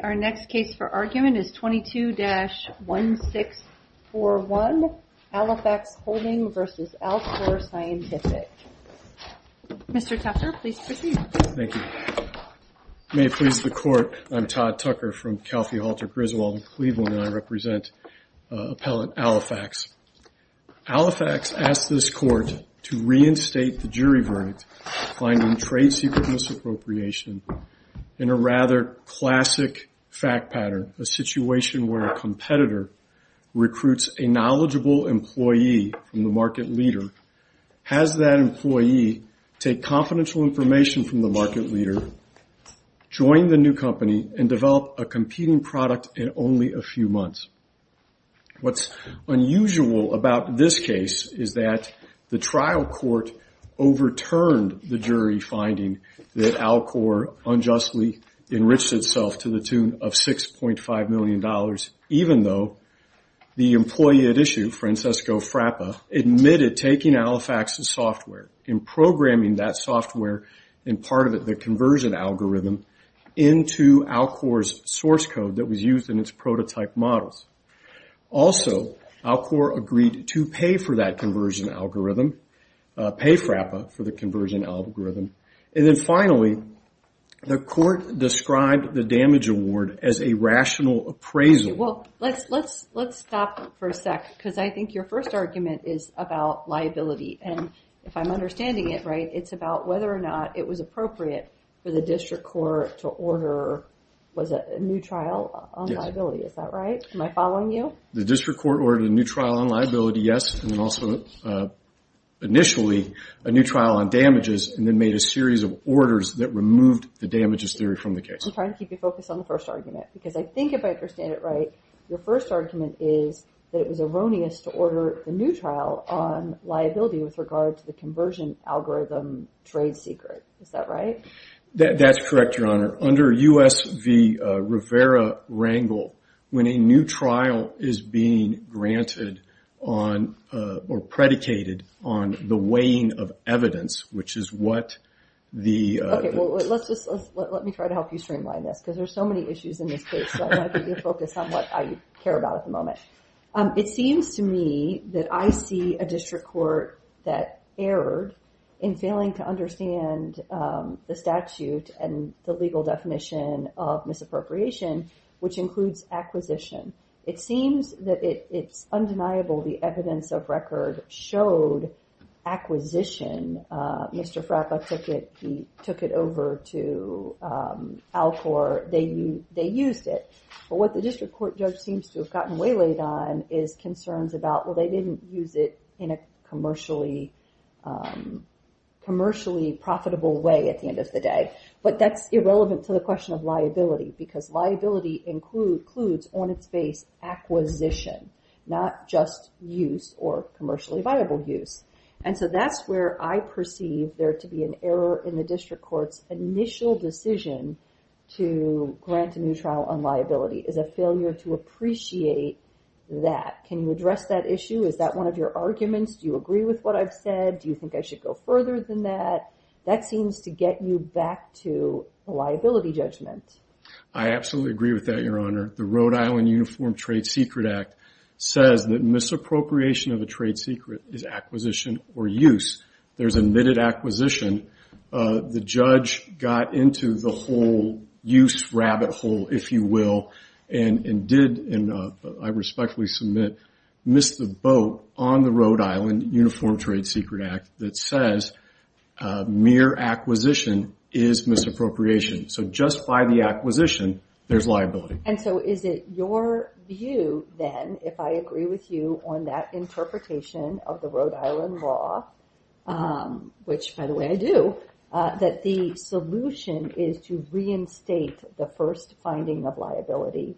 22-1641 Alifax Holding v. Alcor Scientific Mr. Tucker, please proceed. Thank you. May it please the Court, I'm Todd Tucker from Calfee Halter Griswold in Cleveland and I represent appellant Alifax. Alifax asked this Court to reinstate the jury verdict finding trade secret misappropriation in a rather classic fact pattern, a situation where a competitor recruits a knowledgeable employee from the market leader, has that employee take confidential information from the market leader, join the new company, and develop a competing product in only a few months. What's unusual about this case is that the trial court overturned the jury finding that Alcor unjustly enriched itself to the tune of $6.5 million, even though the employee at issue, Francesco Frappa, admitted taking Alifax's software, and programming that software and part of it, the conversion algorithm, into Alcor's source code that was used in its prototype models. Also, Alcor agreed to pay for that conversion algorithm, pay Frappa for the conversion algorithm. And then finally, the court described the damage award as a rational appraisal. Well, let's stop for a sec, because I think your first argument is about liability. And if I'm understanding it right, it's about whether or not it was appropriate for the district court to order a new trial on liability. Is that right? Am I following you? The district court ordered a new trial on liability, yes. And also, initially, a new trial on damages, and then made a series of orders that removed the damages theory from the case. I'm trying to keep you focused on the first argument, because I think if I understand it right, your first argument is that it was erroneous to order a new trial on liability with regard to the conversion algorithm trade secret. Is that right? That's correct, Your Honor. Under U.S. v. Rivera-Rangel, when a new trial is being granted on or predicated on the weighing of evidence, which is what the... Let me try to help you streamline this, because there's so many issues in this case, so I want to keep you focused on what I care about at the moment. It seems to me that I see a district court that erred in failing to understand the statute and the legal definition of misappropriation, which includes acquisition. It seems that it's undeniable the evidence of record showed acquisition. Mr. Frappa took it over to Alcor. They used it. But what the district court judge seems to have gotten waylaid on is concerns about, well, they didn't use it in a commercially profitable way at the end of the day. But that's irrelevant to the question of liability, because liability includes, on its base, acquisition, not just use or commercially viable use. And so that's where I perceive there to be an error in the district court's initial decision to grant a new trial on liability, is a failure to appreciate that. Can you address that issue? Is that one of your arguments? Do you agree with what I've said? Do you think I should go further than that? That seems to get you back to a liability judgment. I absolutely agree with that, Your Honor. The Rhode Island Uniform Trade Secret Act says that misappropriation of a trade secret is acquisition or use. There's admitted acquisition. The judge got into the whole use rabbit hole, if you will, and did, I respectfully submit, miss the boat on the Rhode Island Uniform Trade Secret Act that says mere acquisition is misappropriation. So just by the acquisition, there's liability. And so is it your view, then, if I agree with you on that interpretation of the Rhode Island law, which, by the way, I do, that the solution is to reinstate the first finding of liability?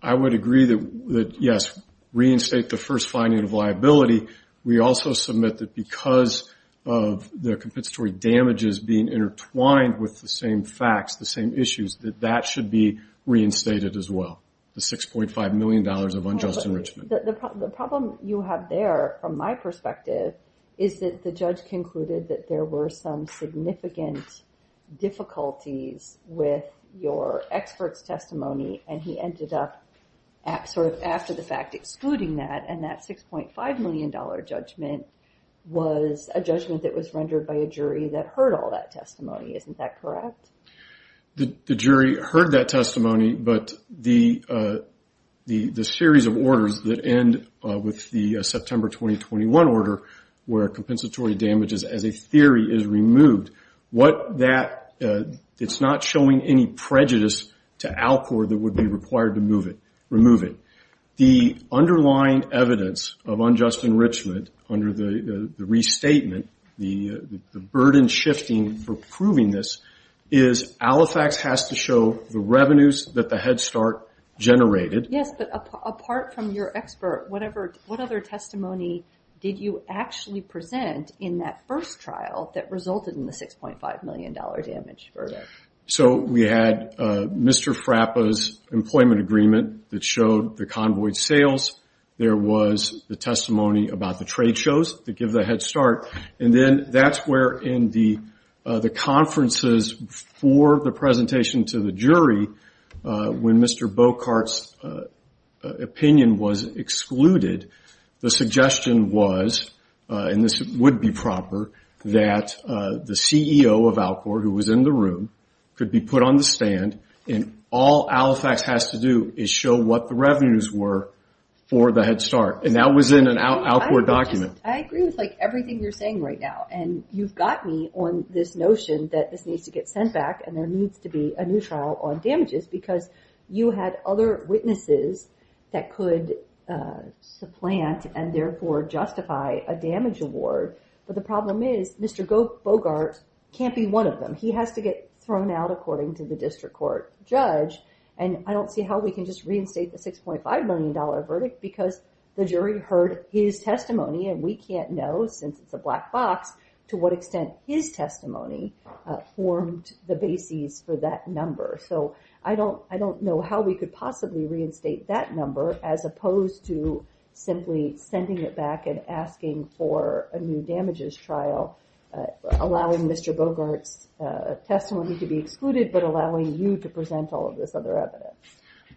I would agree that, yes, reinstate the first finding of liability. We also submit that because of the compensatory damages being intertwined with the same facts, the same issues, that that should be reinstated as well, the $6.5 million of unjust enrichment. The problem you have there, from my perspective, is that the judge concluded that there were some significant difficulties with your expert's testimony, and he ended up sort of after the fact excluding that, and that $6.5 million judgment was a judgment that was rendered by a jury that heard all that testimony. Isn't that correct? The jury heard that testimony, but the series of orders that end with the September 2021 order, where compensatory damages as a theory is removed, it's not showing any prejudice to Alcor that would be required to remove it. The underlying evidence of unjust enrichment under the restatement, the burden shifting for proving this, is Alifax has to show the revenues that the Head Start generated. Yes, but apart from your expert, what other testimony did you actually present in that first trial that resulted in the $6.5 million damage verdict? We had Mr. Frappa's employment agreement that showed the convoy's sales. There was the testimony about the trade shows that give the Head Start, and then that's where in the conferences for the presentation to the jury, when Mr. Bocart's opinion was excluded, the suggestion was, and this would be proper, that the CEO of Alcor, who was in the room, could be put on the stand, and all Alifax has to do is show what the revenues were for the Head Start, and that was in an Alcor document. I agree with everything you're saying right now, and you've got me on this notion that this needs to get sent back, and there needs to be a new trial on damages, because you had other witnesses that could supplant and therefore justify a damage award, but the problem is Mr. Bocart can't be one of them. He has to get thrown out according to the district court judge, and I don't see how we can just reinstate the $6.5 million verdict, because the jury heard his testimony, and we can't know, since it's a black box, to what extent his testimony formed the bases for that number. So I don't know how we could possibly reinstate that number, as opposed to simply sending it back and asking for a new damages trial, allowing Mr. Bocart's testimony to be excluded, but allowing you to present all of this other evidence.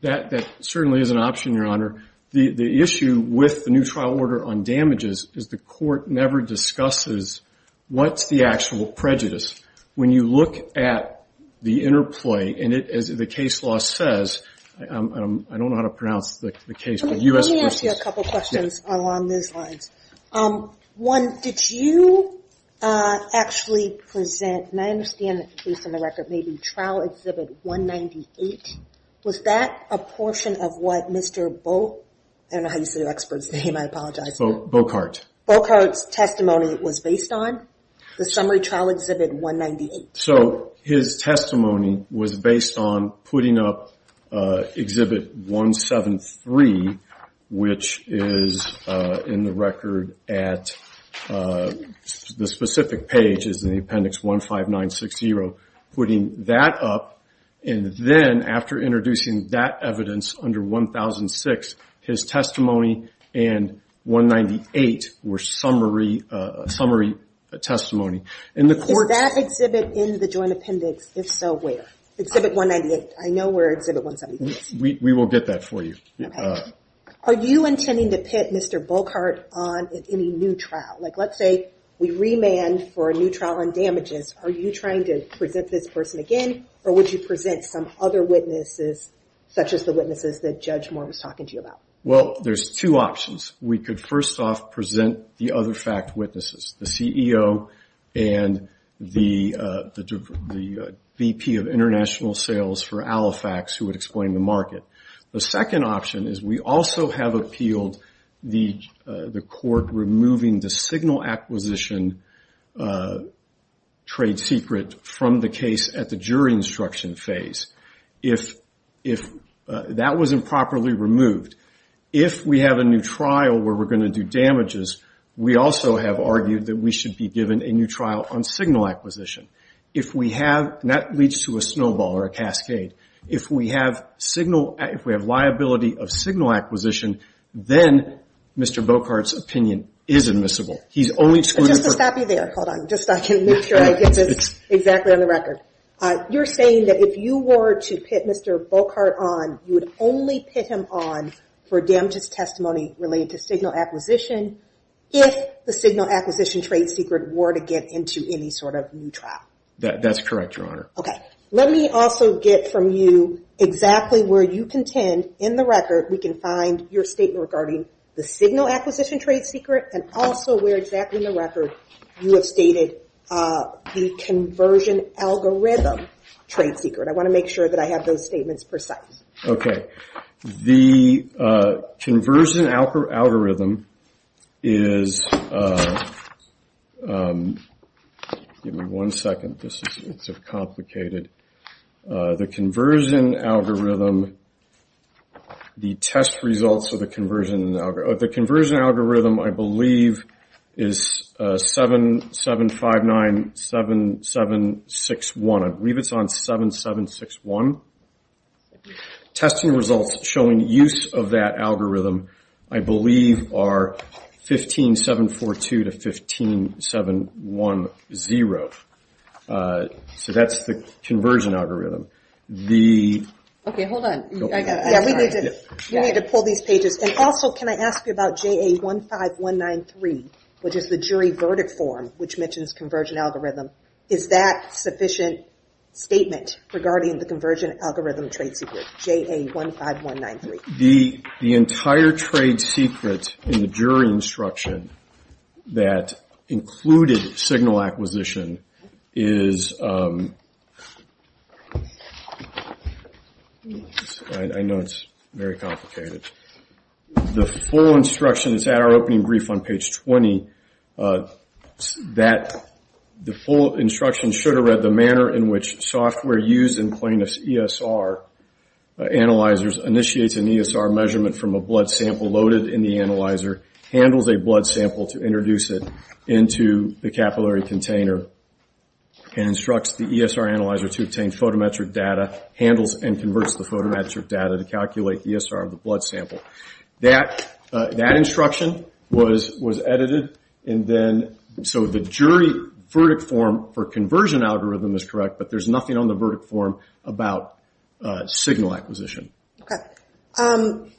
That certainly is an option, Your Honor. The issue with the new trial order on damages is the court never discusses what's the actual prejudice. When you look at the interplay, and as the case law says, I don't know how to pronounce the case, but U.S. Let me ask you a couple questions along those lines. One, did you actually present, and I understand based on the record, maybe Trial Exhibit 198? Was that a portion of what Mr. Bocart's testimony was based on, the Summary Trial Exhibit 198? So his testimony was based on putting up Exhibit 173, which is in the record at the specific pages in the Appendix 15960, putting that up. And then after introducing that evidence under 1006, his testimony and 198 were summary testimony. Is that exhibit in the Joint Appendix? If so, where? Exhibit 198. I know where Exhibit 173 is. We will get that for you. Are you intending to pit Mr. Bocart on any new trial? Like let's say we remand for a new trial on damages. Are you trying to present this person again, or would you present some other witnesses, such as the witnesses that Judge Moore was talking to you about? Well, there's two options. We could first off present the other fact witnesses, the CEO and the VP of International Sales for Alifax, who would explain the market. The second option is we also have appealed the court removing the signal acquisition trade secret from the case at the jury instruction phase. That was improperly removed. If we have a new trial where we're going to do damages, we also have argued that we should be given a new trial on signal acquisition. That leads to a snowball or a cascade. If we have liability of signal acquisition, then Mr. Bocart's opinion is admissible. Just to stop you there, hold on, just so I can make sure I get this exactly on the record. You're saying that if you were to put Mr. Bocart on, you would only put him on for damages testimony related to signal acquisition if the signal acquisition trade secret were to get into any sort of new trial. That's correct, Your Honor. Okay. Let me also get from you exactly where you contend in the record. We can find your statement regarding the signal acquisition trade secret and also where exactly in the record you have stated the conversion algorithm trade secret. I want to make sure that I have those statements precise. Okay. The conversion algorithm is, give me one second, it's complicated. The conversion algorithm, the test results of the conversion algorithm, I believe, is 7.759.7761. I believe it's on 7.761. Testing results showing use of that algorithm, I believe, are 15.742 to 15.710. So that's the conversion algorithm. Okay, hold on. Yeah, we need to pull these pages. And also, can I ask you about JA15193, which is the jury verdict form, which mentions conversion algorithm. Is that sufficient statement regarding the conversion algorithm trade secret, JA15193? The entire trade secret in the jury instruction that included signal acquisition is, I know it's very complicated. The full instruction is at our opening brief on page 20. The full instruction should have read, the manner in which software used in plaintiff's ESR analyzers initiates an ESR measurement from a blood sample loaded in the analyzer, handles a blood sample to introduce it into the capillary container, and instructs the ESR analyzer to obtain photometric data, handles and converts the photometric data to calculate the ESR of the blood sample. That instruction was edited. And then, so the jury verdict form for conversion algorithm is correct, but there's nothing on the verdict form about signal acquisition. Okay.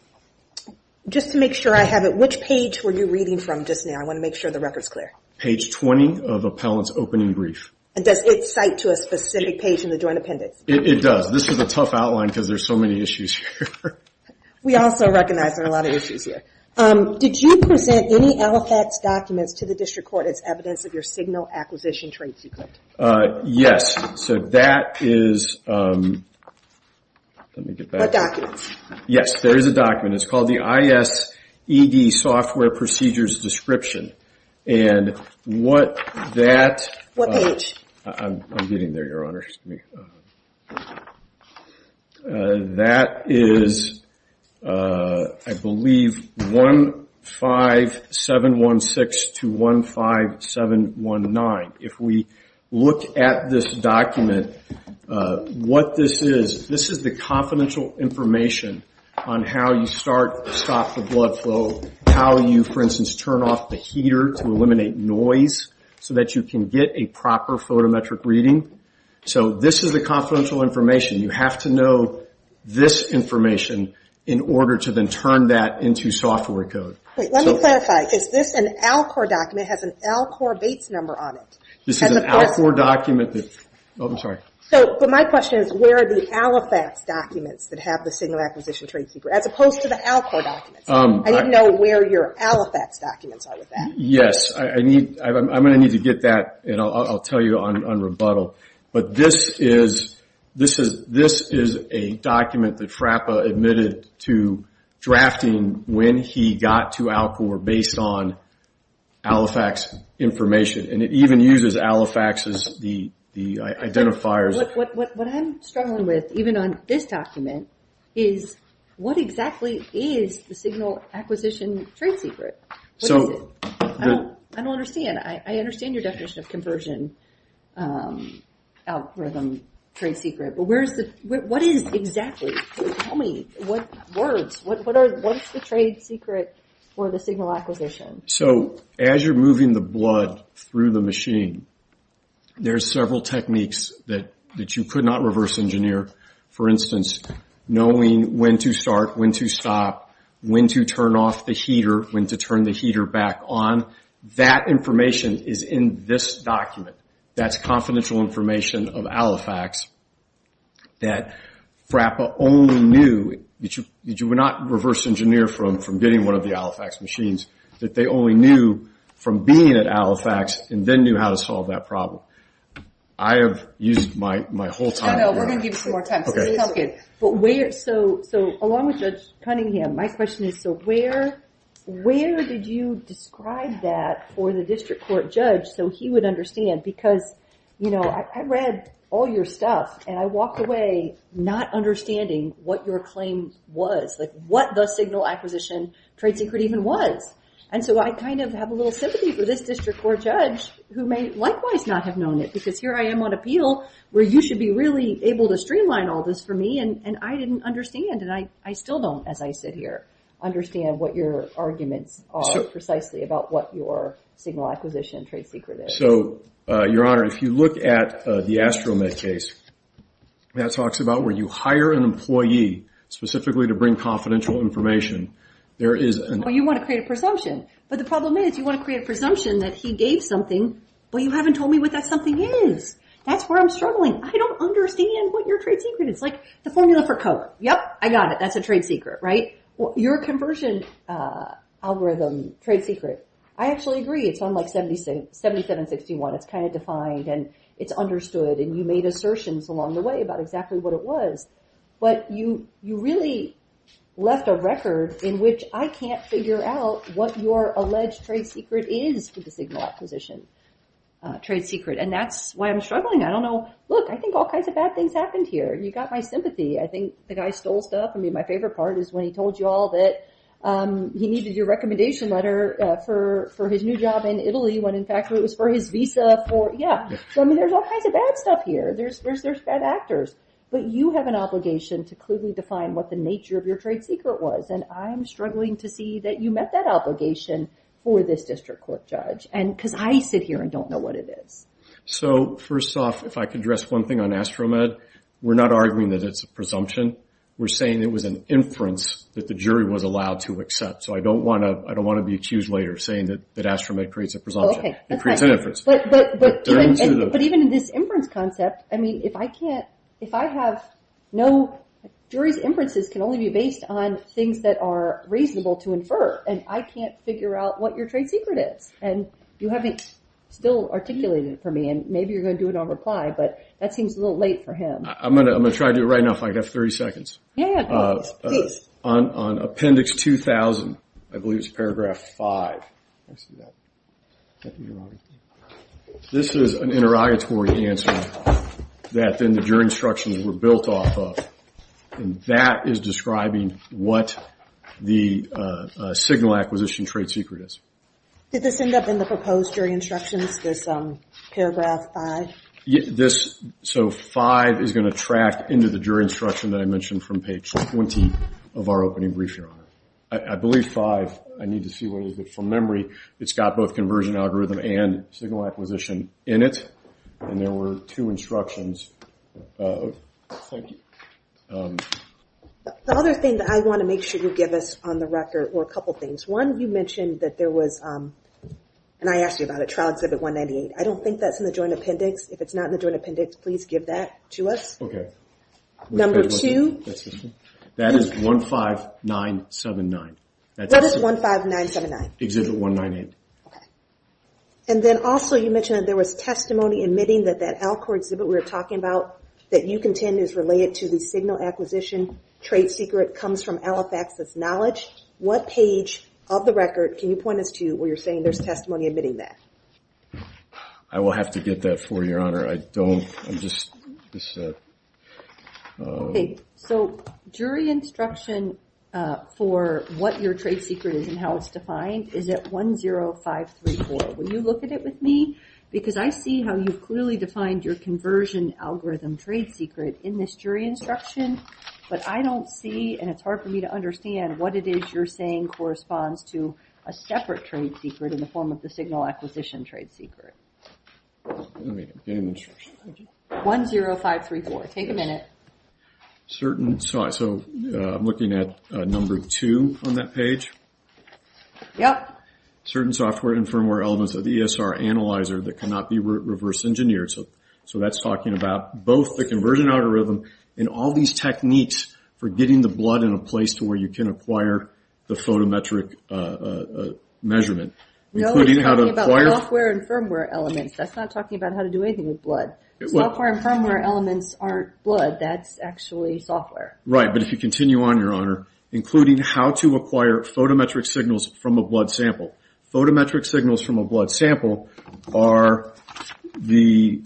Just to make sure I have it, which page were you reading from just now? I want to make sure the record's clear. Page 20 of appellant's opening brief. And does it cite to a specific page in the joint appendix? It does. This is a tough outline because there's so many issues here. We also recognize there are a lot of issues here. Did you present any LFX documents to the district court as evidence of your signal acquisition trade secret? Yes. So that is, let me get back. What documents? Yes, there is a document. It's called the ISED software procedures description. And what that. What page? I'm getting there, Your Honor. That is, I believe, 15716 to 15719. If we look at this document, what this is, this is the confidential information on how you start, stop the blood flow, how you, for instance, turn off the heater to eliminate noise so that you can get a proper photometric reading. So this is the confidential information. You have to know this information in order to then turn that into software code. Wait, let me clarify. Is this an Alcor document? It has an Alcor Bates number on it. This is an Alcor document. Oh, I'm sorry. So, but my question is where are the LFX documents that have the signal acquisition trade secret as opposed to the Alcor documents? I didn't know where your LFX documents are with that. Yes, I'm going to need to get that, and I'll tell you on rebuttal. But this is a document that FRAPA admitted to drafting when he got to Alcor based on LFX information. And it even uses LFX as the identifiers. What I'm struggling with, even on this document, is what exactly is the signal acquisition trade secret? What is it? I don't understand. I understand your definition of conversion algorithm trade secret, but what is exactly? Tell me. What words? What is the trade secret for the signal acquisition? So, as you're moving the blood through the machine, there's several techniques that you could not reverse engineer. For instance, knowing when to start, when to stop, when to turn off the heater, when to turn the heater back on. That information is in this document. That's confidential information of Alifax that FRAPA only knew, that you would not reverse engineer from getting one of the Alifax machines, that they only knew from being at Alifax and then knew how to solve that problem. I have used my whole time. We're going to give you some more time. So, along with Judge Cunningham, my question is, so where did you describe that for the district court judge so he would understand? I read all your stuff, and I walked away not understanding what your claim was, like what the signal acquisition trade secret even was. So, I kind of have a little sympathy for this district court judge who may likewise not have known it, because here I am on appeal where you should be really able to streamline all this for me, and I didn't understand, and I still don't, as I sit here, understand what your arguments are precisely about what your signal acquisition trade secret is. So, Your Honor, if you look at the Astromed case, that talks about where you hire an employee specifically to bring confidential information. You want to create a presumption. But the problem is you want to create a presumption that he gave something, but you haven't told me what that something is. That's where I'm struggling. I don't understand what your trade secret is. It's like the formula for color. Yep, I got it. That's a trade secret, right? Your conversion algorithm trade secret, I actually agree. It's on like 7761. It's kind of defined, and it's understood, and you made assertions along the way about exactly what it was. But you really left a record in which I can't figure out what your alleged trade secret is for the signal acquisition trade secret, and that's why I'm struggling. I don't know. Look, I think all kinds of bad things happened here, and you got my sympathy. I think the guy stole stuff. I mean, my favorite part is when he told you all that he needed your recommendation letter for his new job in Italy when, in fact, it was for his visa for, yeah. I mean, there's all kinds of bad stuff here. There's bad actors. But you have an obligation to clearly define what the nature of your trade secret was, and I'm struggling to see that you met that obligation for this district court judge, because I sit here and don't know what it is. So first off, if I could address one thing on AstroMed, we're not arguing that it's a presumption. We're saying it was an inference that the jury was allowed to accept. So I don't want to be accused later saying that AstroMed creates a presumption. It creates an inference. But even in this inference concept, I mean, if I can't, if I have no, jury's inferences can only be based on things that are reasonable to infer, and I can't figure out what your trade secret is. And you haven't still articulated it for me, and maybe you're going to do it on reply, but that seems a little late for him. I'm going to try to do it right now if I have 30 seconds. On Appendix 2000, I believe it's Paragraph 5. This is an interrogatory answer that then the jury instructions were built off of, and that is describing what the signal acquisition trade secret is. Did this end up in the proposed jury instructions, this Paragraph 5? So 5 is going to track into the jury instruction that I mentioned from page 20 of our opening brief here. I believe 5. I need to see what it is, but from memory, it's got both conversion algorithm and signal acquisition in it, and there were two instructions. Thank you. The other thing that I want to make sure you give us on the record were a couple things. One, you mentioned that there was, and I asked you about it, Trial Exhibit 198. I don't think that's in the Joint Appendix. If it's not in the Joint Appendix, please give that to us. Okay. Number two. That is 15979. What is 15979? Exhibit 198. Okay. And then also you mentioned that there was testimony admitting that that Alcor exhibit we were talking about that you contend is related to the signal acquisition trade secret comes from Alifax's knowledge. What page of the record can you point us to where you're saying there's testimony admitting that? I will have to get that for you, Your Honor. I don't. I'm just. So jury instruction for what your trade secret is and how it's defined is at 10534. Will you look at it with me? Because I see how you've clearly defined your conversion algorithm trade secret in this jury instruction, but I don't see and it's hard for me to understand what it is you're saying corresponds to a separate trade secret in the form of the signal acquisition trade secret. Let me get it. 10534. Take a minute. Certain. So I'm looking at number two on that page. Yep. Certain software and firmware elements of the ESR analyzer that cannot be reverse engineered. So that's talking about both the conversion algorithm and all these techniques for getting the blood in a place to where you can acquire the photometric measurement. No, it's talking about software and firmware elements. That's not talking about how to do anything with blood. Software and firmware elements aren't blood. That's actually software. Right, but if you continue on, Your Honor, including how to acquire photometric signals from a blood sample. Photometric signals from a blood sample are the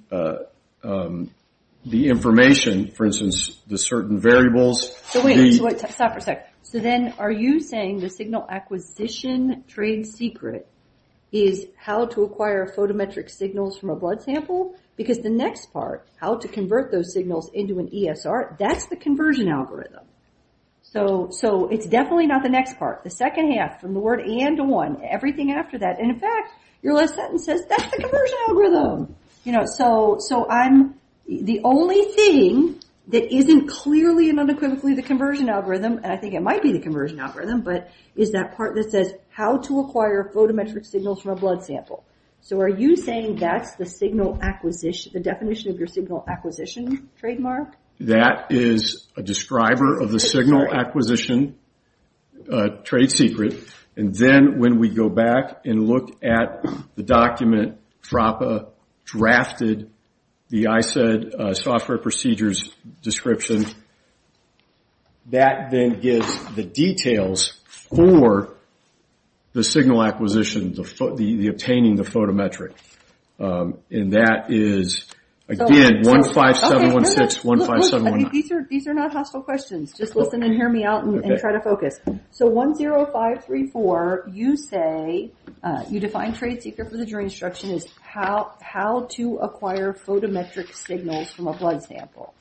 information, for instance, the certain variables. So wait. Stop for a second. So then are you saying the signal acquisition trade secret is how to acquire photometric signals from a blood sample? Because the next part, how to convert those signals into an ESR, that's the conversion algorithm. So it's definitely not the next part. The second half from the word and to one. Everything after that. And in fact, your last sentence says that's the conversion algorithm. So the only thing that isn't clearly and unequivocally the conversion algorithm, and I think it might be the conversion algorithm, but is that part that says how to acquire photometric signals from a blood sample. So are you saying that's the signal acquisition, the definition of your signal acquisition trademark? That is a describer of the signal acquisition trade secret. And then when we go back and look at the document DRAPA drafted, the ICED software procedures description, that then gives the details for the signal acquisition, the obtaining the photometric. And that is, again, 15716, 15719. These are not hostile questions. Just listen and hear me out and try to focus. So 10534, you say you define trade secret for the jury instruction is how to acquire photometric signals from a blood sample.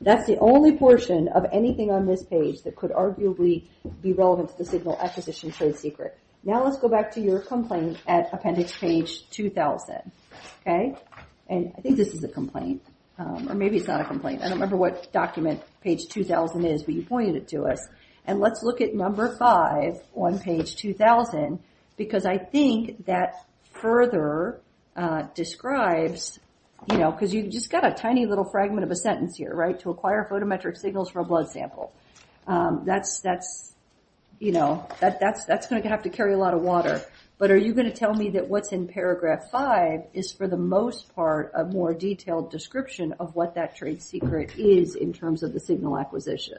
That's the only portion of anything on this page that could arguably be relevant to the signal acquisition trade secret. Now let's go back to your complaint at appendix page 2000, okay? And I think this is a complaint, or maybe it's not a complaint. I don't remember what document page 2000 is, but you pointed it to us. And let's look at number five on page 2000, because I think that further describes, you know, because you've just got a tiny little fragment of a sentence here, right, to acquire photometric signals from a blood sample. That's, you know, that's going to have to carry a lot of water. But are you going to tell me that what's in paragraph five is, for the most part, a more detailed description of what that trade secret is in terms of the signal acquisition?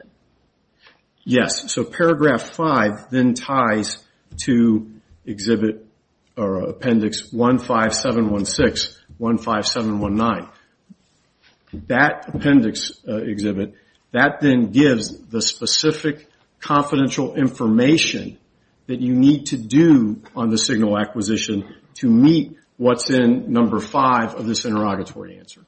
Yes, so paragraph five then ties to appendix 15716, 15719. That appendix exhibit, that then gives the specific confidential information that you need to do on the signal acquisition to meet what's in number five of this interrogatory answer.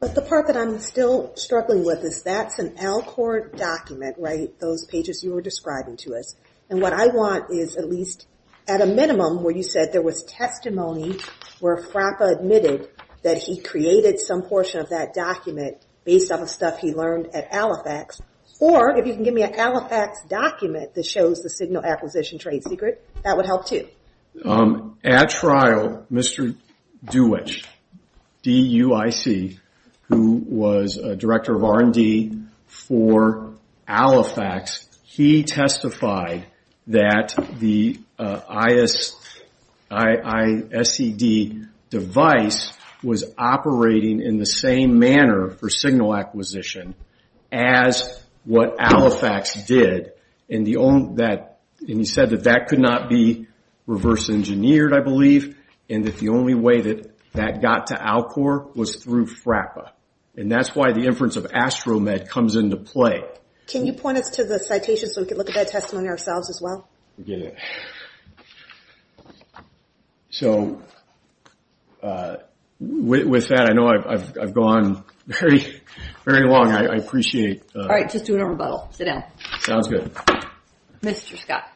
But the part that I'm still struggling with is that's an Alcor document, right? Those pages you were describing to us. And what I want is at least at a minimum where you said there was testimony where Frappa admitted that he created some portion of that document based off of stuff he learned at Alifax. Or if you can give me an Alifax document that shows the signal acquisition trade secret, that would help too. At trial, Mr. Deutch, D-U-I-C, who was a director of R&D for Alifax, he testified that the ISED device was operating in the same manner for signal acquisition as what Alifax did. And he said that that could not be reverse engineered, I believe, and that the only way that that got to Alcor was through Frappa. And that's why the inference of AstroMed comes into play. Can you point us to the citation so we can look at that testimony ourselves as well? So with that, I know I've gone very long. I appreciate it. All right. Just do a rebuttal. Sit down. Sounds good. Mr. Scott.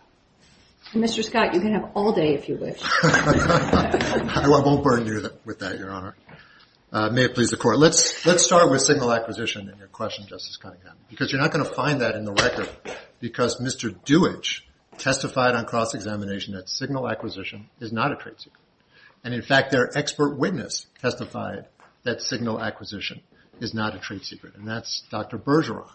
Mr. Scott, you can have all day if you wish. I won't burn you with that, Your Honor. May it please the Court. Let's start with signal acquisition in your question, Justice Cunningham, because you're not going to find that in the record because Mr. Deutch testified on cross-examination that signal acquisition is not a trade secret. And in fact, their expert witness testified that signal acquisition is not a trade secret, and that's Dr. Bergeron.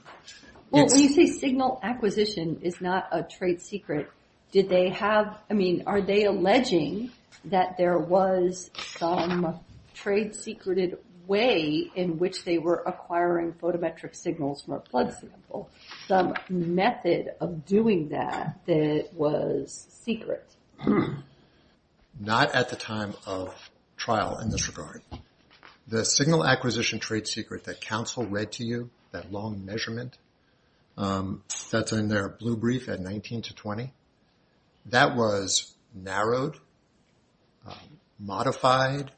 Well, when you say signal acquisition is not a trade secret, did they have, I mean, are they alleging that there was some trade secreted way in which they were acquiring photometric signals from a blood sample, some method of doing that that was secret? Not at the time of trial in this regard. The signal acquisition trade secret that counsel read to you, that long measurement that's in their blue brief at 19 to 20, that was narrowed, modified,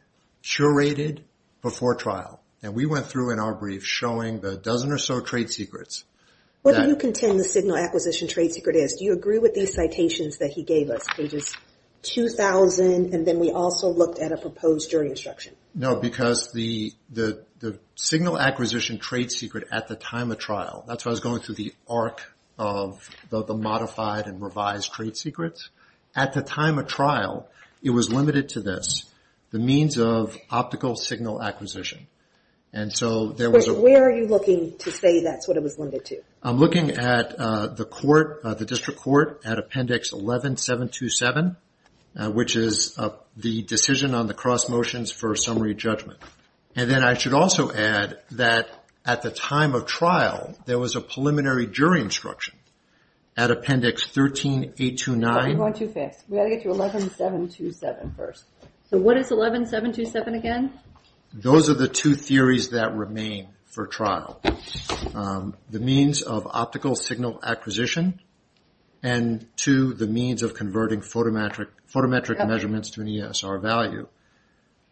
curated before trial. And we went through in our brief showing the dozen or so trade secrets. What do you contend the signal acquisition trade secret is? Do you agree with these citations that he gave us? Pages 2,000, and then we also looked at a proposed jury instruction. No, because the signal acquisition trade secret at the time of trial, that's why I was going through the arc of the modified and revised trade secrets. At the time of trial, it was limited to this, the means of optical signal acquisition. Where are you looking to say that's what it was limited to? I'm looking at the District Court at Appendix 11-727, which is the decision on the cross motions for summary judgment. And then I should also add that at the time of trial, there was a preliminary jury instruction at Appendix 13-829. So what is 11-727 again? Those are the two theories that remain for trial. The means of optical signal acquisition, and two, the means of converting photometric measurements to an ESR value.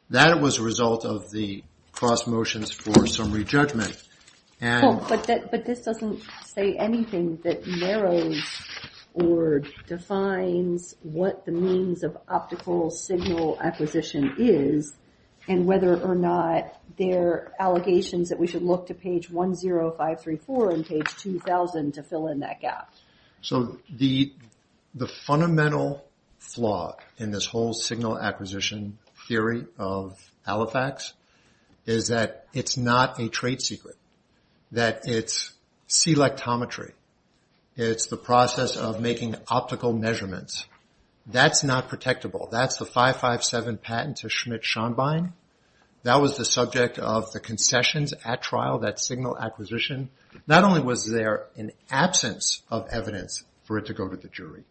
That was a result of the cross motions for summary judgment. But this doesn't say anything that narrows or defines what the means of optical signal acquisition is, and whether or not there are allegations that we should look to page 10534 and page 2000 to fill in that gap. So the fundamental flaw in this whole signal acquisition theory of Halifax is that it's not a trade secret. That it's selectometry. It's the process of making optical measurements. That's not protectable. That's the 557 patent to Schmidt-Schonbein. That was the subject of the concessions at trial, that signal acquisition. Not only was there an absence of evidence for it to go to the jury,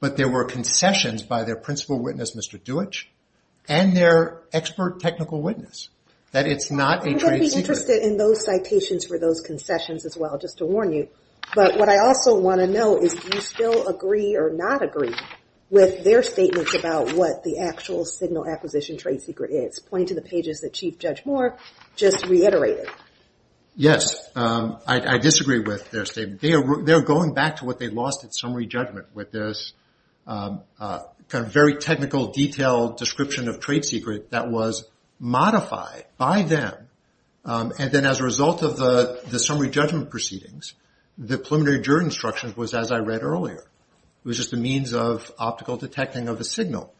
but there were concessions by their principal witness, Mr. Deutch, and their expert technical witness. I'm going to be interested in those citations for those concessions as well, just to warn you. But what I also want to know is do you still agree or not agree with their statements about what the actual signal acquisition trade secret is, pointing to the pages that Chief Judge Moore just reiterated? Yes. I disagree with their statement. They're going back to what they lost at summary judgment with this kind of very technical, detailed description of trade secret that was modified by them. And then as a result of the summary judgment proceedings, the preliminary juror instructions was as I read earlier. It was just a means of optical detecting of a signal.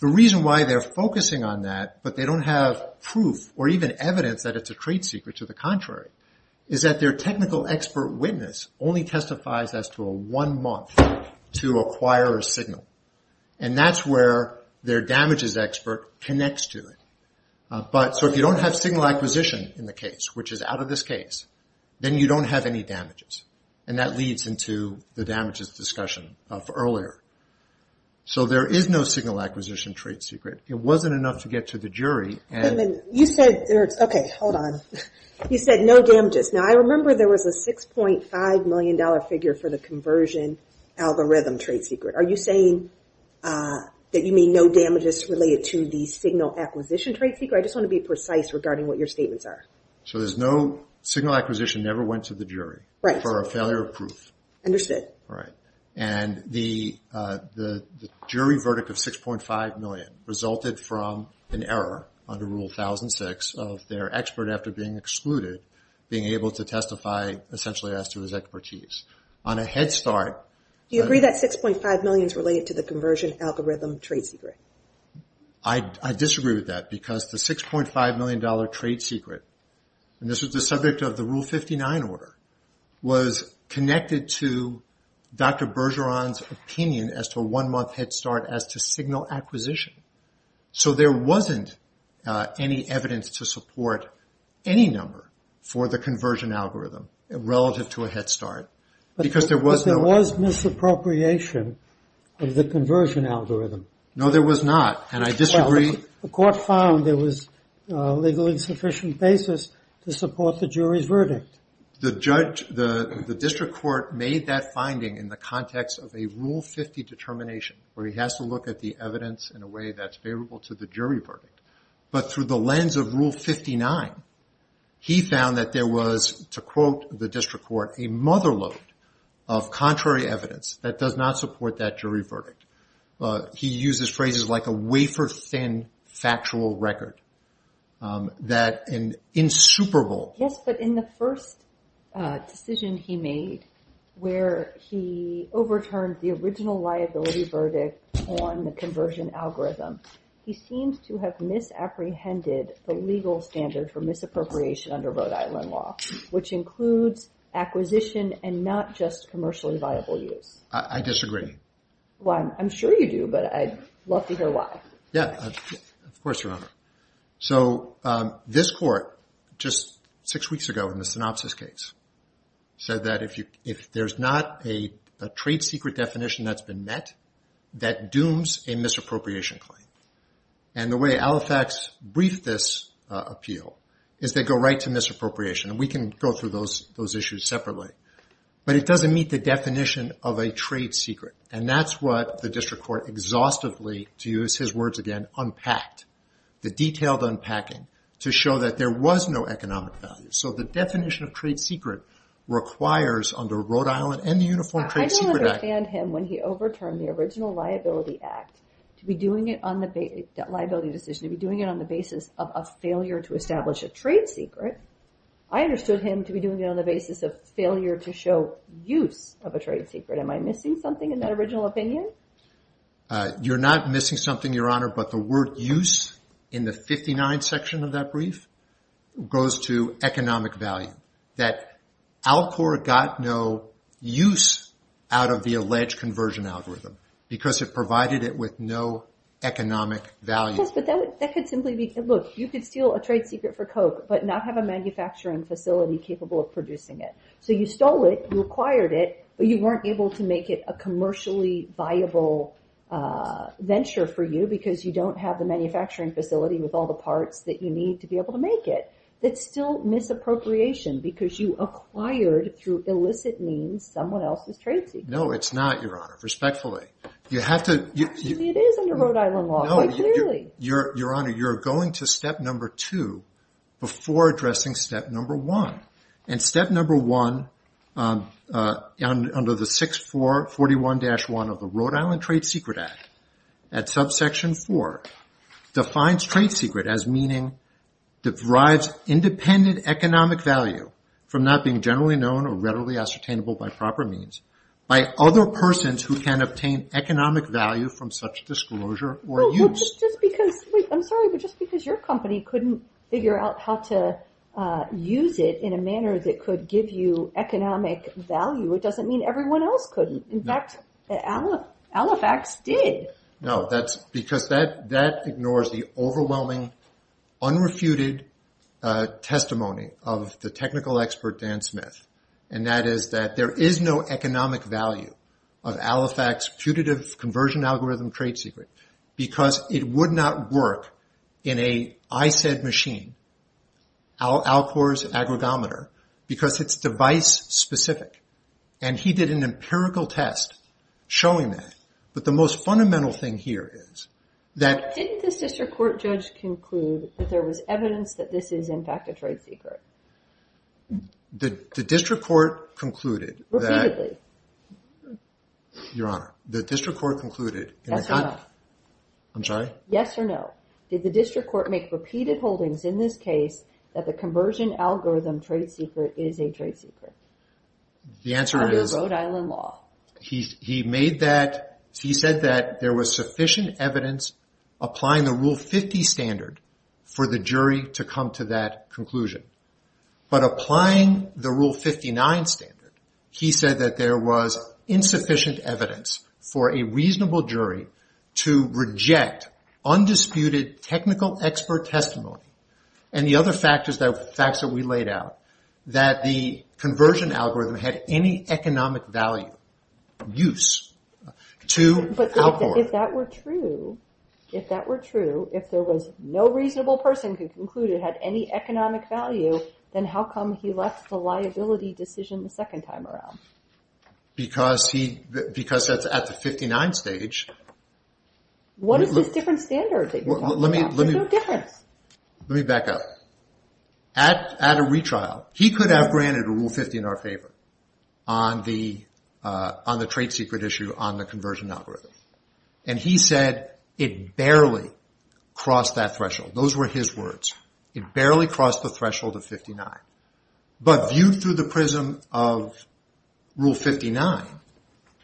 The reason why they're focusing on that, but they don't have proof or even evidence that it's a trade secret to the contrary, is that their technical expert witness only testifies as to a one month to acquire a signal. And that's where their damages expert connects to it. So if you don't have signal acquisition in the case, which is out of this case, then you don't have any damages. And that leads into the damages discussion of earlier. So there is no signal acquisition trade secret. It wasn't enough to get to the jury. You said no damages. Now I remember there was a $6.5 million figure for the conversion algorithm trade secret. Are you saying that you mean no damages related to the signal acquisition trade secret? I just want to be precise regarding what your statements are. Signal acquisition never went to the jury for a failure of proof. Understood. And the jury verdict of $6.5 million resulted from an error under Rule 1006 of their expert after being excluded being able to testify essentially as to his expertise. Do you agree that $6.5 million is related to the conversion algorithm trade secret? I disagree with that because the $6.5 million trade secret, and this is the subject of the Rule 59 order, was connected to Dr. Bergeron's opinion as to a one-month head start as to signal acquisition. So there wasn't any evidence to support any number for the conversion algorithm relative to a head start. But there was misappropriation of the conversion algorithm. No, there was not, and I disagree. The district court made that finding in the context of a Rule 50 determination where he has to look at the evidence in a way that's favorable to the jury verdict. But through the lens of Rule 59, he found that there was, to quote the district court, a mother load of contrary evidence that does not support that jury verdict. He uses phrases like a wafer-thin factual record that in super bowl. Yes, but in the first decision he made where he overturned the original liability verdict on the conversion algorithm, he seems to have misapprehended the legal standard for misappropriation under Rhode Island law, which includes acquisition and not just commercially viable use. I disagree. Well, I'm sure you do, but I'd love to hear why. Yeah, of course, Your Honor. So this court just six weeks ago in the synopsis case said that if there's not a trade secret definition that's been met, that dooms a misappropriation claim. And the way Alifax briefed this appeal is they go right to misappropriation. And we can go through those issues separately. But it doesn't meet the definition of a trade secret. And that's what the district court exhaustively, to use his words again, unpacked. The detailed unpacking to show that there was no economic value. So the definition of trade secret requires under Rhode Island and the Uniform Trade Secret Act... I don't understand him when he overturned the liability decision to be doing it on the basis of a failure to establish a trade secret. I understood him to be doing it on the basis of failure to show use of a trade secret. Am I missing something in that original opinion? You're not missing something, Your Honor, but the word use in the 59 section of that brief goes to economic value. That Alcor got no use out of the Yes, but that could simply be, look, you could steal a trade secret for coke, but not have a manufacturing facility capable of producing it. So you stole it, you acquired it, but you weren't able to make it a commercially viable venture for you because you don't have the manufacturing facility with all the parts that you need to be able to make it. That's still misappropriation because you acquired through illicit means someone else's trade secret. No, it's not, Your Honor, respectfully. You have to... Your Honor, you're going to step number two before addressing step number one. And step number one under the 641-1 of the Rhode Island Trade Secret Act at subsection four defines trade secret as meaning that derives independent economic value from not being generally known or readily ascertainable by proper means by other persons who can obtain economic value from such disclosure or use. I'm sorry, but just because your company couldn't figure out how to use it in a manner that could give you economic value, it doesn't mean everyone else couldn't. In fact, Alifax did. No, that's because that technical expert Dan Smith, and that is that there is no economic value of Alifax's putative conversion algorithm trade secret because it would not work in a ICED machine, Alcor's agrogometer, because it's device specific. And he did an empirical test showing that. But the most fundamental thing here is that... The district court concluded... Repeatedly. Your Honor, the district court concluded... Yes or no. I'm sorry? Yes or no. Did the district court make repeated holdings in this case that the conversion algorithm trade secret is a trade secret? The answer is... Under Rhode Island law. He said that there was sufficient evidence applying the Rule 59 standard, he said that there was insufficient evidence for a reasonable jury to reject undisputed technical expert testimony and the other facts that we laid out, that the conversion algorithm had any economic value use to Alcor. But if that were true, if that were true, if there was no reasonable person who concluded it had any economic value, then how come he left the liability decision the second time around? Because at the 59 stage... What is this different standard that you're talking about? There's no difference. Let me back up. At a retrial, he could have granted a Rule 50 in our favor on the trade secret issue on the conversion algorithm. And he said it barely crossed that threshold. Those were his words. It barely crossed the threshold of 59. But viewed through the prism of Rule 59,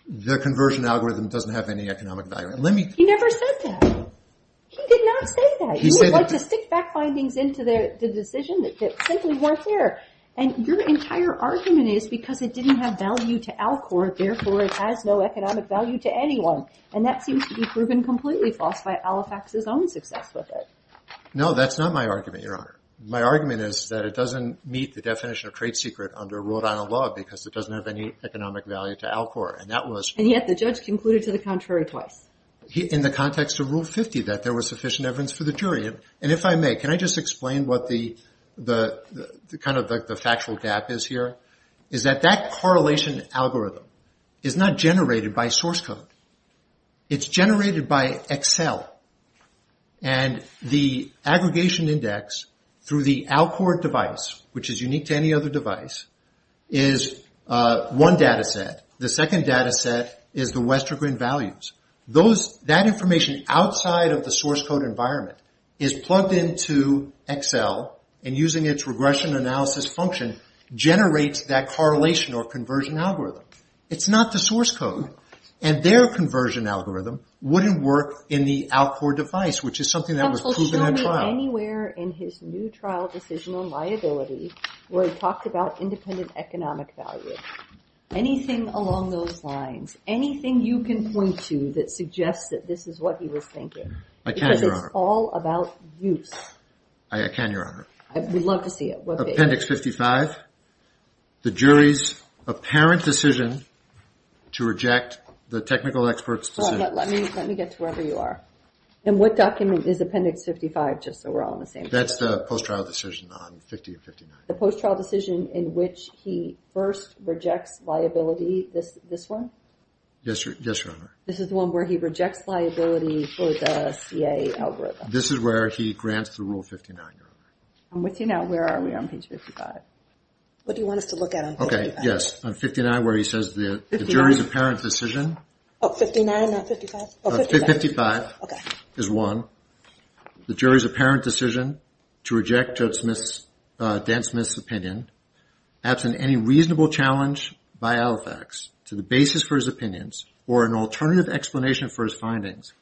the conversion algorithm doesn't have any economic value. He never said that. He did not say that. He would like to stick back findings into the decision that simply weren't there. And your entire argument is because it didn't have value to Alcor, therefore it has no economic value to anyone. And that seems to be proven completely false by Olifax's own success with it. No, that's not my argument, Your Honor. My argument is that it doesn't meet the definition of trade secret under a rule of law because it doesn't have any economic value to Alcor. And yet the judge concluded to the contrary twice. In the context of Rule 50, that there was sufficient evidence for the jury. And if I may, can I just explain what the factual gap is here? Is that that correlation algorithm is not generated by source code. It's generated by Excel. And the aggregation index through the Alcor device, which is unique to any other device, is one data set. The second data set is the Westergren values. That information outside of the source code environment is plugged into Excel and using its regression analysis function generates that correlation or conversion algorithm. It's not the source code. And their conversion algorithm wouldn't work in the Alcor device, which is something that was proven at trial. Counsel, show me anywhere in his new trial decision on liability where he talked about independent economic value. Anything along those lines. Anything you can point to that suggests that this is what he was thinking. I can, Your Honor. Because it's all about use. I can, Your Honor. We'd love to see it. Appendix 55. The jury's apparent decision to reject the technical expert's decision. Let me get to wherever you are. And what document is Appendix 55, just so we're all on the same page. That's the post-trial decision on 50 and 59. The post-trial decision in which he first rejects liability. This one? Yes, Your Honor. This is the one where he rejects liability for the CA algorithm. This is where he grants the Rule 59, Your Honor. I'm with you now. Where are we on page 55? What do you want us to look at on page 55? Yes, on 59 where he says the jury's apparent decision. 59, not 55? 55 is one. The jury's apparent decision to reject Judge Dan Smith's opinion, absent any reasonable challenge by Alifax to the basis for his opinions or an alternative explanation for his findings,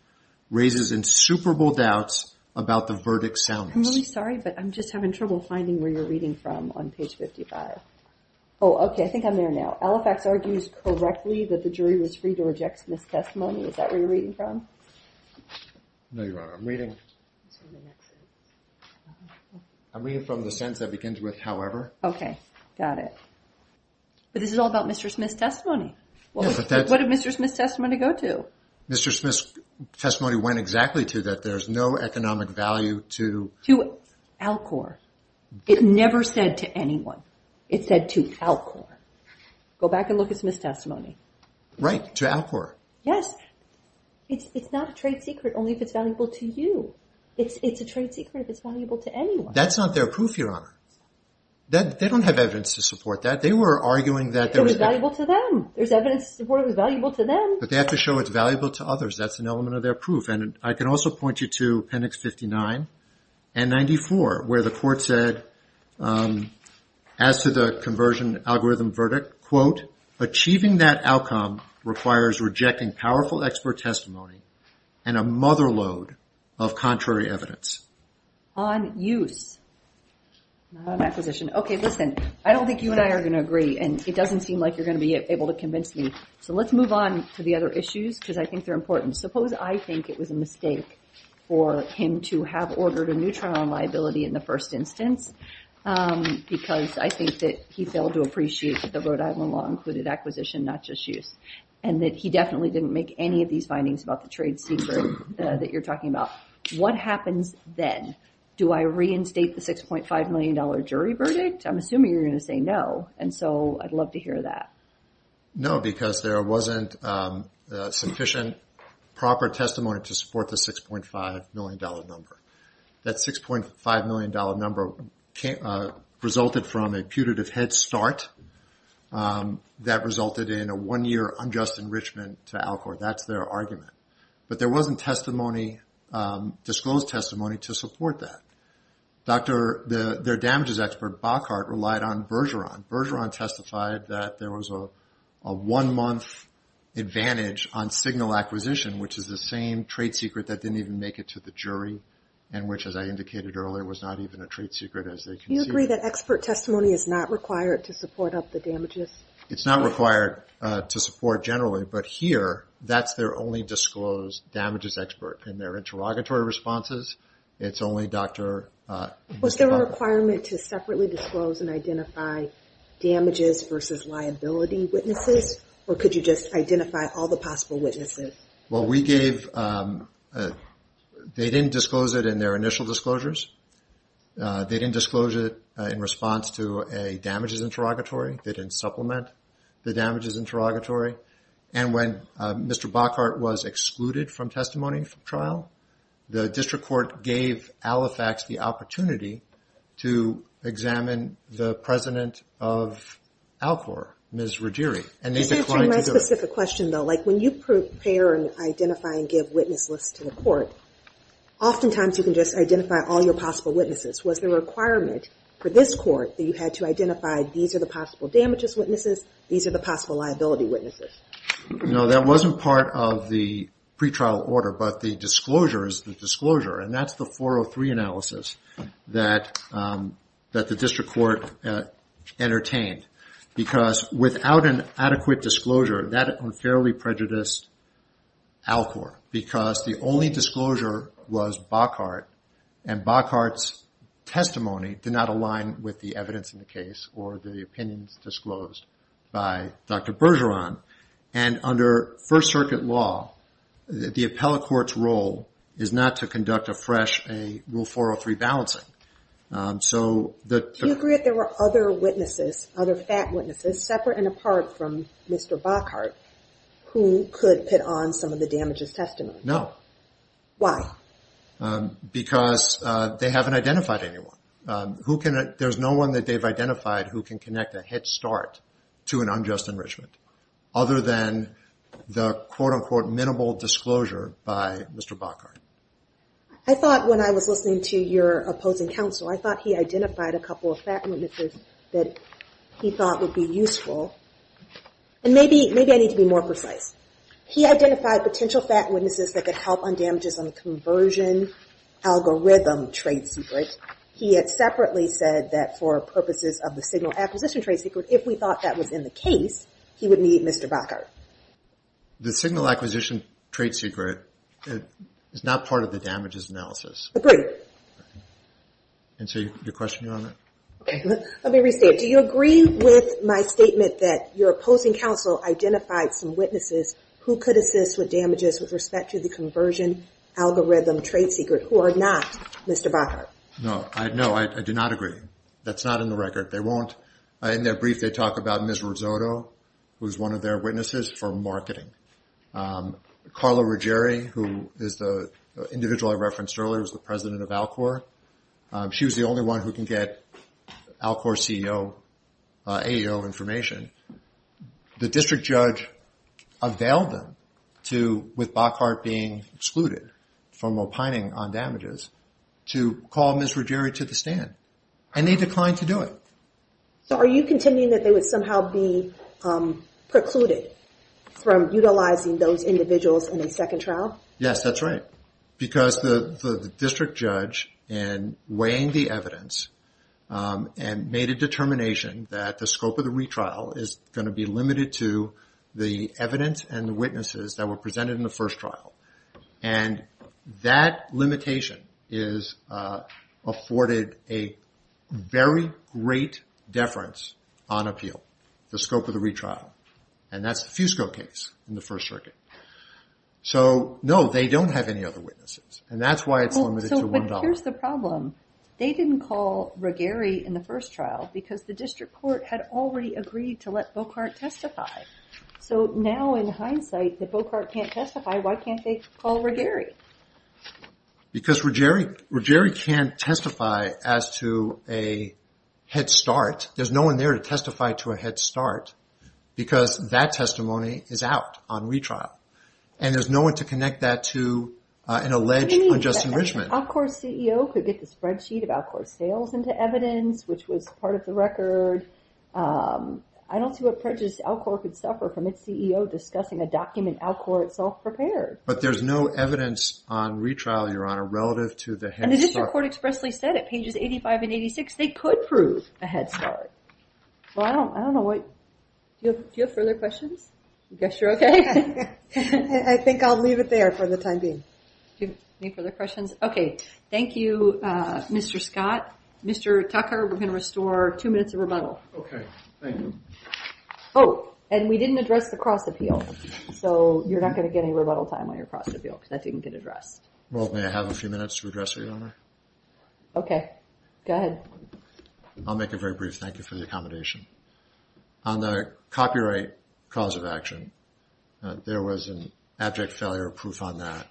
raises insuperable doubts about the verdict's soundness. I'm really sorry, but I'm just having trouble finding where you're reading from on page 55. Oh, okay. I think I'm there now. Alifax argues correctly that the jury was free to reject Smith's testimony. Is that where you're reading from? No, Your Honor. I'm reading from the sentence that begins with, however. Okay. Got it. But this is all about Mr. Smith's testimony. What did Mr. Smith's testimony go to? Mr. Smith's testimony went exactly to that. There's no economic value to Alcor. It never said to anyone. It said to Alcor. Go back and look at Smith's testimony. Right, to Alcor. Yes. It's not a trade secret only if it's valuable to you. It's a trade secret if it's valuable to anyone. That's not their proof, Your Honor. They don't have evidence to support that. They were arguing that it was valuable to them. There's evidence to support it was valuable to them. But they have to show it's true. As to the conversion algorithm verdict, quote, Okay, listen. I don't think you and I are going to agree and it doesn't seem like you're going to be able to convince me. So let's move on to the other issues because I think they're important. Suppose I think it was a mistake for him to have ordered a neutron liability in the first instance because I think that he failed to appreciate the Rhode Island law included acquisition, not just use, and that he definitely didn't make any of these findings about the trade secret that you're talking about. What happens then? Do I reinstate the $6.5 million jury verdict? I'm assuming you're going to say no, and so I'd love to hear that. Bergeron testified that there was a one-month advantage on signal acquisition, which is the same trade secret that didn't even make it to the jury, and which, as I indicated earlier, was not even a trade secret as they conceded. It's not required to support generally, but here, that's their only disclosed damages expert. In their interrogatory responses, it's only Dr. Bockhardt who disclosed and identified damages versus liability witnesses, or could you just identify all the possible witnesses? Well, we gave... They didn't disclose it in their initial disclosures. They didn't disclose it in response to a damages interrogatory. They didn't supplement the damages interrogatory, and when Mr. Bockhardt was excluded from testimony for trial, the president of Alcor, Ms. Ruggieri, and they declined to do it. That's actually my specific question, though. When you prepare and identify and give witness lists to the court, oftentimes you can just identify all your possible witnesses. Was the requirement for this court that you had to identify these are the possible damages witnesses, these are the possible liability witnesses? No, that wasn't part of the pretrial order, but the disclosure is the disclosure, and that's the 403 analysis that the district court entertained, because without an adequate disclosure, that unfairly prejudiced Alcor, because the only disclosure was Bockhardt, and Bockhardt's testimony did not align with the evidence in the case or the opinions disclosed by Dr. Bergeron, and under First Circuit law, the appellate court's role is not to conduct afresh a Rule 403 balancing. Do you agree that there were other witnesses, other fat witnesses, separate and apart from Mr. Bockhardt, who could put on some of the damages testimony? No. Why? Because they haven't identified anyone. There's no one that they've identified. I thought when I was listening to your opposing counsel, I thought he identified a couple of fat witnesses that he thought would be useful, and maybe I need to be more precise. He identified potential fat witnesses that could help on damages on the conversion algorithm trade secret. He had separately said that for purposes of the signal acquisition trade secret, if we thought that was in the case, he would need Mr. Bockhardt. The signal acquisition trade secret is not part of the damages analysis. Agreed. And so your question, Your Honor? Okay. Let me restate. Do you agree with my statement that your opposing counsel identified some witnesses who could assist with damages with respect to the conversion algorithm trade secret who are not Mr. Bockhardt? No. I do not agree. That's not in the record. They won't. In their brief, they talk about Ms. Rizzotto, who's one of their witnesses for marketing. Carla Ruggieri, who is the individual I referenced earlier, is the president of Alcor. She was the only one who can get Alcor CEO, AEO information. The district judge availed them to, with Bockhardt being excluded from opining on damages, to call Ms. Ruggieri to the stand. And they declined to do it. So are you contending that they would somehow be precluded from utilizing those individuals in a second trial? Yes, that's right. Because the district judge in weighing the evidence and made a determination that the scope of the retrial, and that limitation is afforded a very great deference on appeal, the scope of the retrial. And that's the Fusco case in the First Circuit. So no, they don't have any other witnesses. And that's why it's limited to $1. Here's the problem. They didn't call Ruggieri in the first trial because the district court had already agreed to let Bockhardt testify. So now in hindsight, if Bockhardt can't testify, why can't they call Ruggieri? Because Ruggieri can't testify as to a head start. There's no one there to testify to a head start. Because that testimony is out on retrial. And there's no one to connect that to an alleged unjust enrichment. Alcor's CEO could get the spreadsheet of Alcor's sales into evidence, which was part of the record. I don't see what prejudice Alcor could suffer from its CEO discussing a document Alcor itself prepared. But there's no evidence on retrial, Your Honor, relative to the head start. And the district court expressly said at pages 85 and 86 they could prove a head start. Well, I don't know what... Do you have further questions? I guess you're okay. I think I'll leave it there for the time being. Any further questions? Okay. Thank you, Mr. Scott. Mr. Tucker, we're going to restore two minutes of rebuttal. Okay. Thank you. Oh, and we didn't address the cross-appeal. So you're not going to get any rebuttal time on your cross-appeal because that didn't get addressed. Well, may I have a few minutes to address it, Your Honor? Okay. Go ahead. I'll make it very brief. Thank you for the accommodation. On the copyright cause of action, there was an abject failure of proof on that.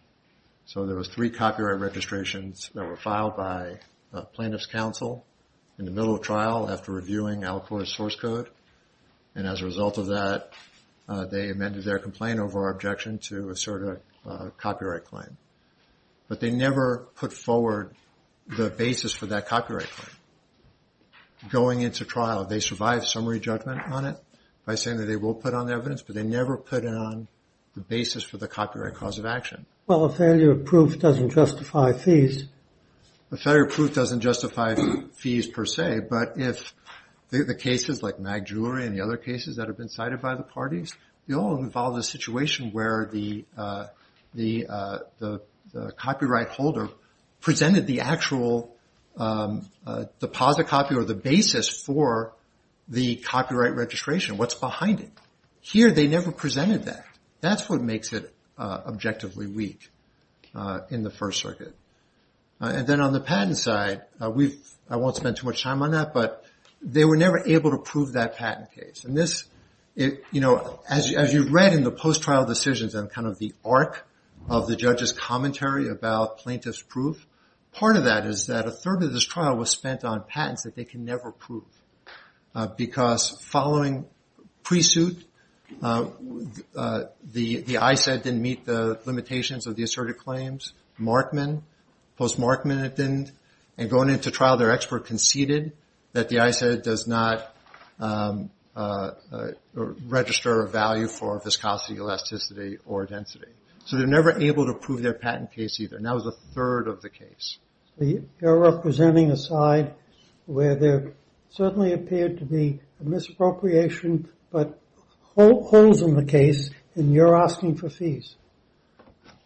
So there was three copyright registrations that were filed by a plaintiff's counsel in the middle of trial after reviewing Alcor's source code. And as a result of that, they amended their complaint over our objection to assert a copyright claim. But they never put forward the basis for that copyright claim. Going into trial, they survived summary judgment on it by saying that they will put on evidence, but they never put it on the basis for the copyright cause of action. Well, a failure of proof doesn't justify fees. A failure of proof doesn't justify fees per se, but if the cases like Mag Jewelry and the other cases that have been cited by the parties, they all involve a situation where the copyright holder presented the actual deposit copy or the basis for the copyright registration, what's behind it. Here they never presented that. That's what makes it objectively weak in the First Circuit. And then on the patent side, I won't spend too much time on that, but they were never able to prove that patent case. As you read in the post-trial decisions and kind of the arc of the judge's commentary about plaintiff's proof, part of that is that a third of this trial was spent on patents that they can never prove because following pre-suit, the ICED didn't meet the limitations of the asserted claims. Markman, post-Markman, it didn't. And going into trial, their expert conceded that the ICED does not register a value for viscosity, elasticity, or density. So they were never able to prove their patent case either, and that was a third of the case. You're representing a side where there certainly appeared to be a misappropriation, but holes in the case, and you're asking for fees.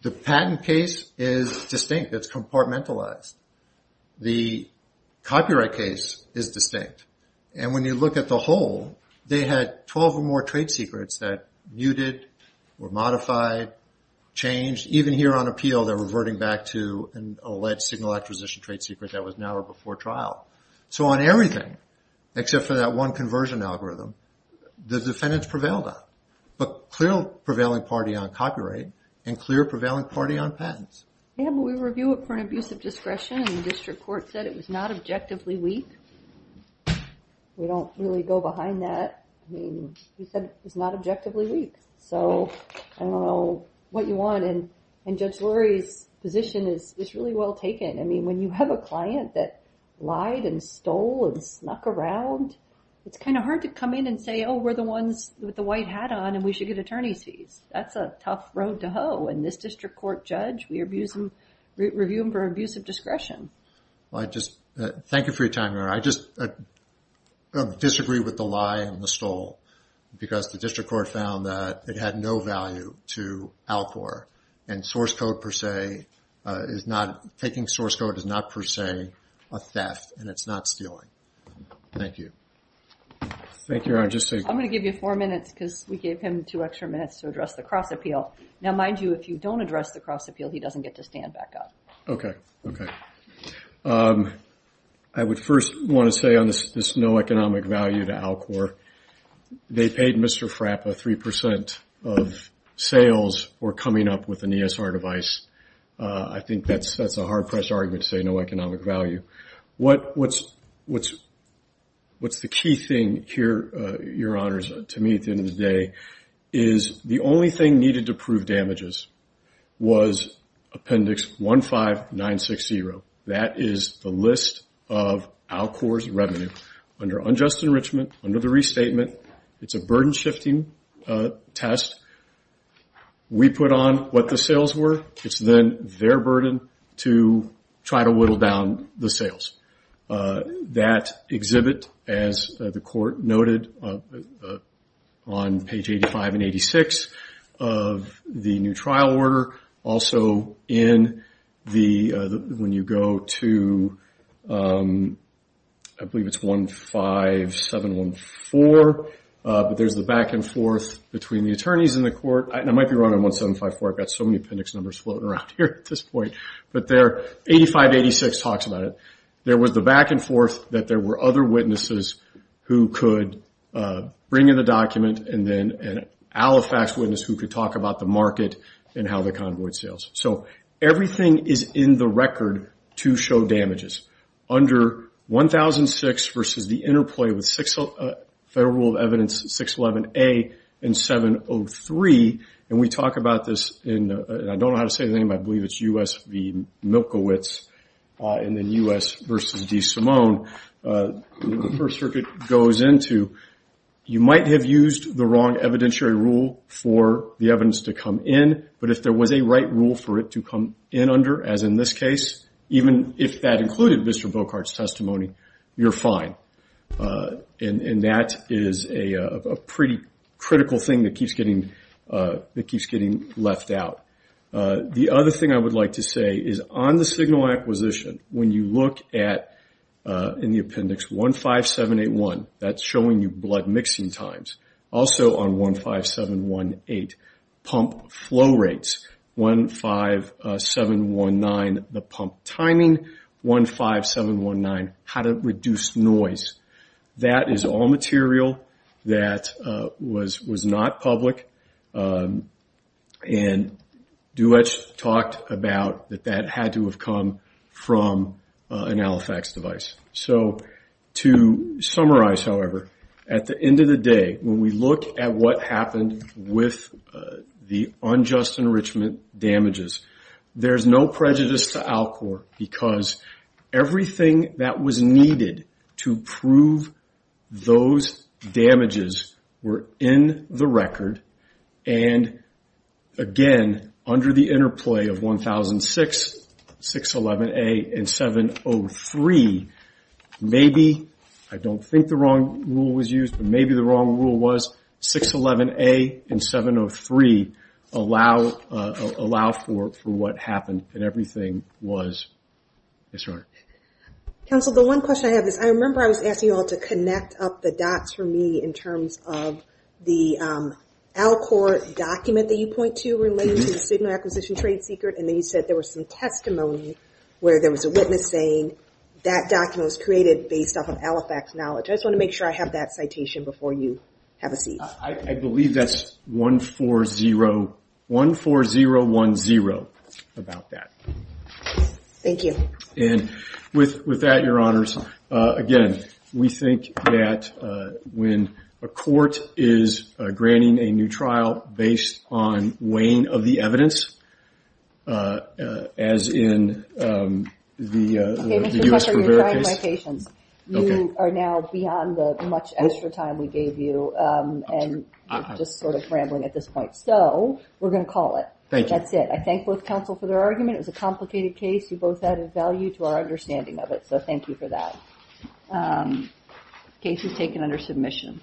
The patent case is distinct. It's compartmentalized. The copyright case is distinct. And when you look at the hole, they had 12 or more trade secrets that muted, were modified, changed. Even here on appeal, they're reverting back to an alleged signal acquisition trade secret that was narrowed before trial. So on everything, except for that one conversion algorithm, the defendants prevailed on, but clear prevailing party on copyright and clear prevailing party on patents. Yeah, but we review it for an abuse of discretion, and the district court said it was not objectively weak. We don't really go behind that. I mean, we said it was not objectively weak. So I don't know what you want, and Judge Lurie's position is really well taken. I mean, when you have a client that lied and stole and snuck around, it's kind of hard to come in and say, oh, we're the ones with the white hat on, and we should get attorney's fees. That's a tough road to hoe, and this district court judge, we review them for abuse of discretion. Well, I just, thank you for your time. I just disagree with the lie and the stole, because the district court found that it had no value to Alcor, and source code per se is not, taking source code is not per se a theft, and it's not stealing. Thank you. I'm going to give you four minutes, because we gave him two extra minutes to address the cross appeal. Now, mind you, if you don't address the cross appeal, he doesn't get to stand back up. I would first want to say on this no economic value to Alcor, they paid Mr. Frappa 3% of sales for coming up with an ESR device. I think that's a hard pressed argument to say no economic value. What's the key thing here, your honors, to me at the end of the day, is the only thing needed to prove damages was appendix 15960. That is the list of Alcor's revenue under unjust enrichment, under the restatement. It's a burden shifting test. We put on what the sales were, it's then their burden to try to whittle down the sales. That exhibit, as the court noted on page 85 and 86 of the new trial order, also in the, when you go to, I believe it's 15714, but there's the back and forth between the attorneys and the court. I might be wrong on 1754, I've got so many appendix numbers floating around here at this point. 8586 talks about it. There was the back and forth that there were other witnesses who could bring in the document and then an alifax witness who could talk about the market and how the convoyed sales. Everything is in the record to show damages. Under 1006 versus the interplay with Federal Rule of Evidence 611A and 703, and we talk about this in, I don't know how to say the name, I believe it's U.S. v. Milkowitz, and then U.S. versus DeSimone, the First Circuit goes into, you might have used the wrong evidentiary rule for the evidence to come in, but if there was a right rule for it to come in under, as in this case, even if that included Mr. Volkart's testimony, you're fine. And that is a pretty critical thing that keeps getting left out. The other thing I would like to say is on the signal acquisition, when you look at, in the appendix, 15781, that's showing you blood mixing times. Also on 15718, pump flow rates. 15719, the pump timing. 15719, how to reduce noise. That is all material that was not public, and Duetsch talked about that that had to have come from an alifax device. So to summarize, however, at the end of the day, when we look at what happened with the unjust enrichment damages, there's no prejudice to Alcor, because everything that was needed to prove those damages were in the record, and again, under the interplay of 1006, 611A, and 703, maybe, I don't think the wrong rule was used, but maybe the wrong rule was 611A and 703, allow for what happened, and everything was. Yes, Your Honor. I remember I was asking you all to connect up the dots for me in terms of the Alcor document that you point to related to the signal acquisition trade secret, and then you said there was some testimony where there was a witness saying that document was created based off of alifax knowledge. I just want to make sure I have that citation before you have a seat. I believe that's 14010 about that. Thank you. And with that, Your Honors, again, we think that when a court is granting a new trial based on weighing of the evidence, as in the U.S. Rivera case. You are now beyond the much extra time we gave you, and just sort of rambling at this point, so we're going to call it. That's it. I thank both counsel for their argument. It was a complicated case. You both added value to our understanding of it, so thank you for that. Case is taken under submission.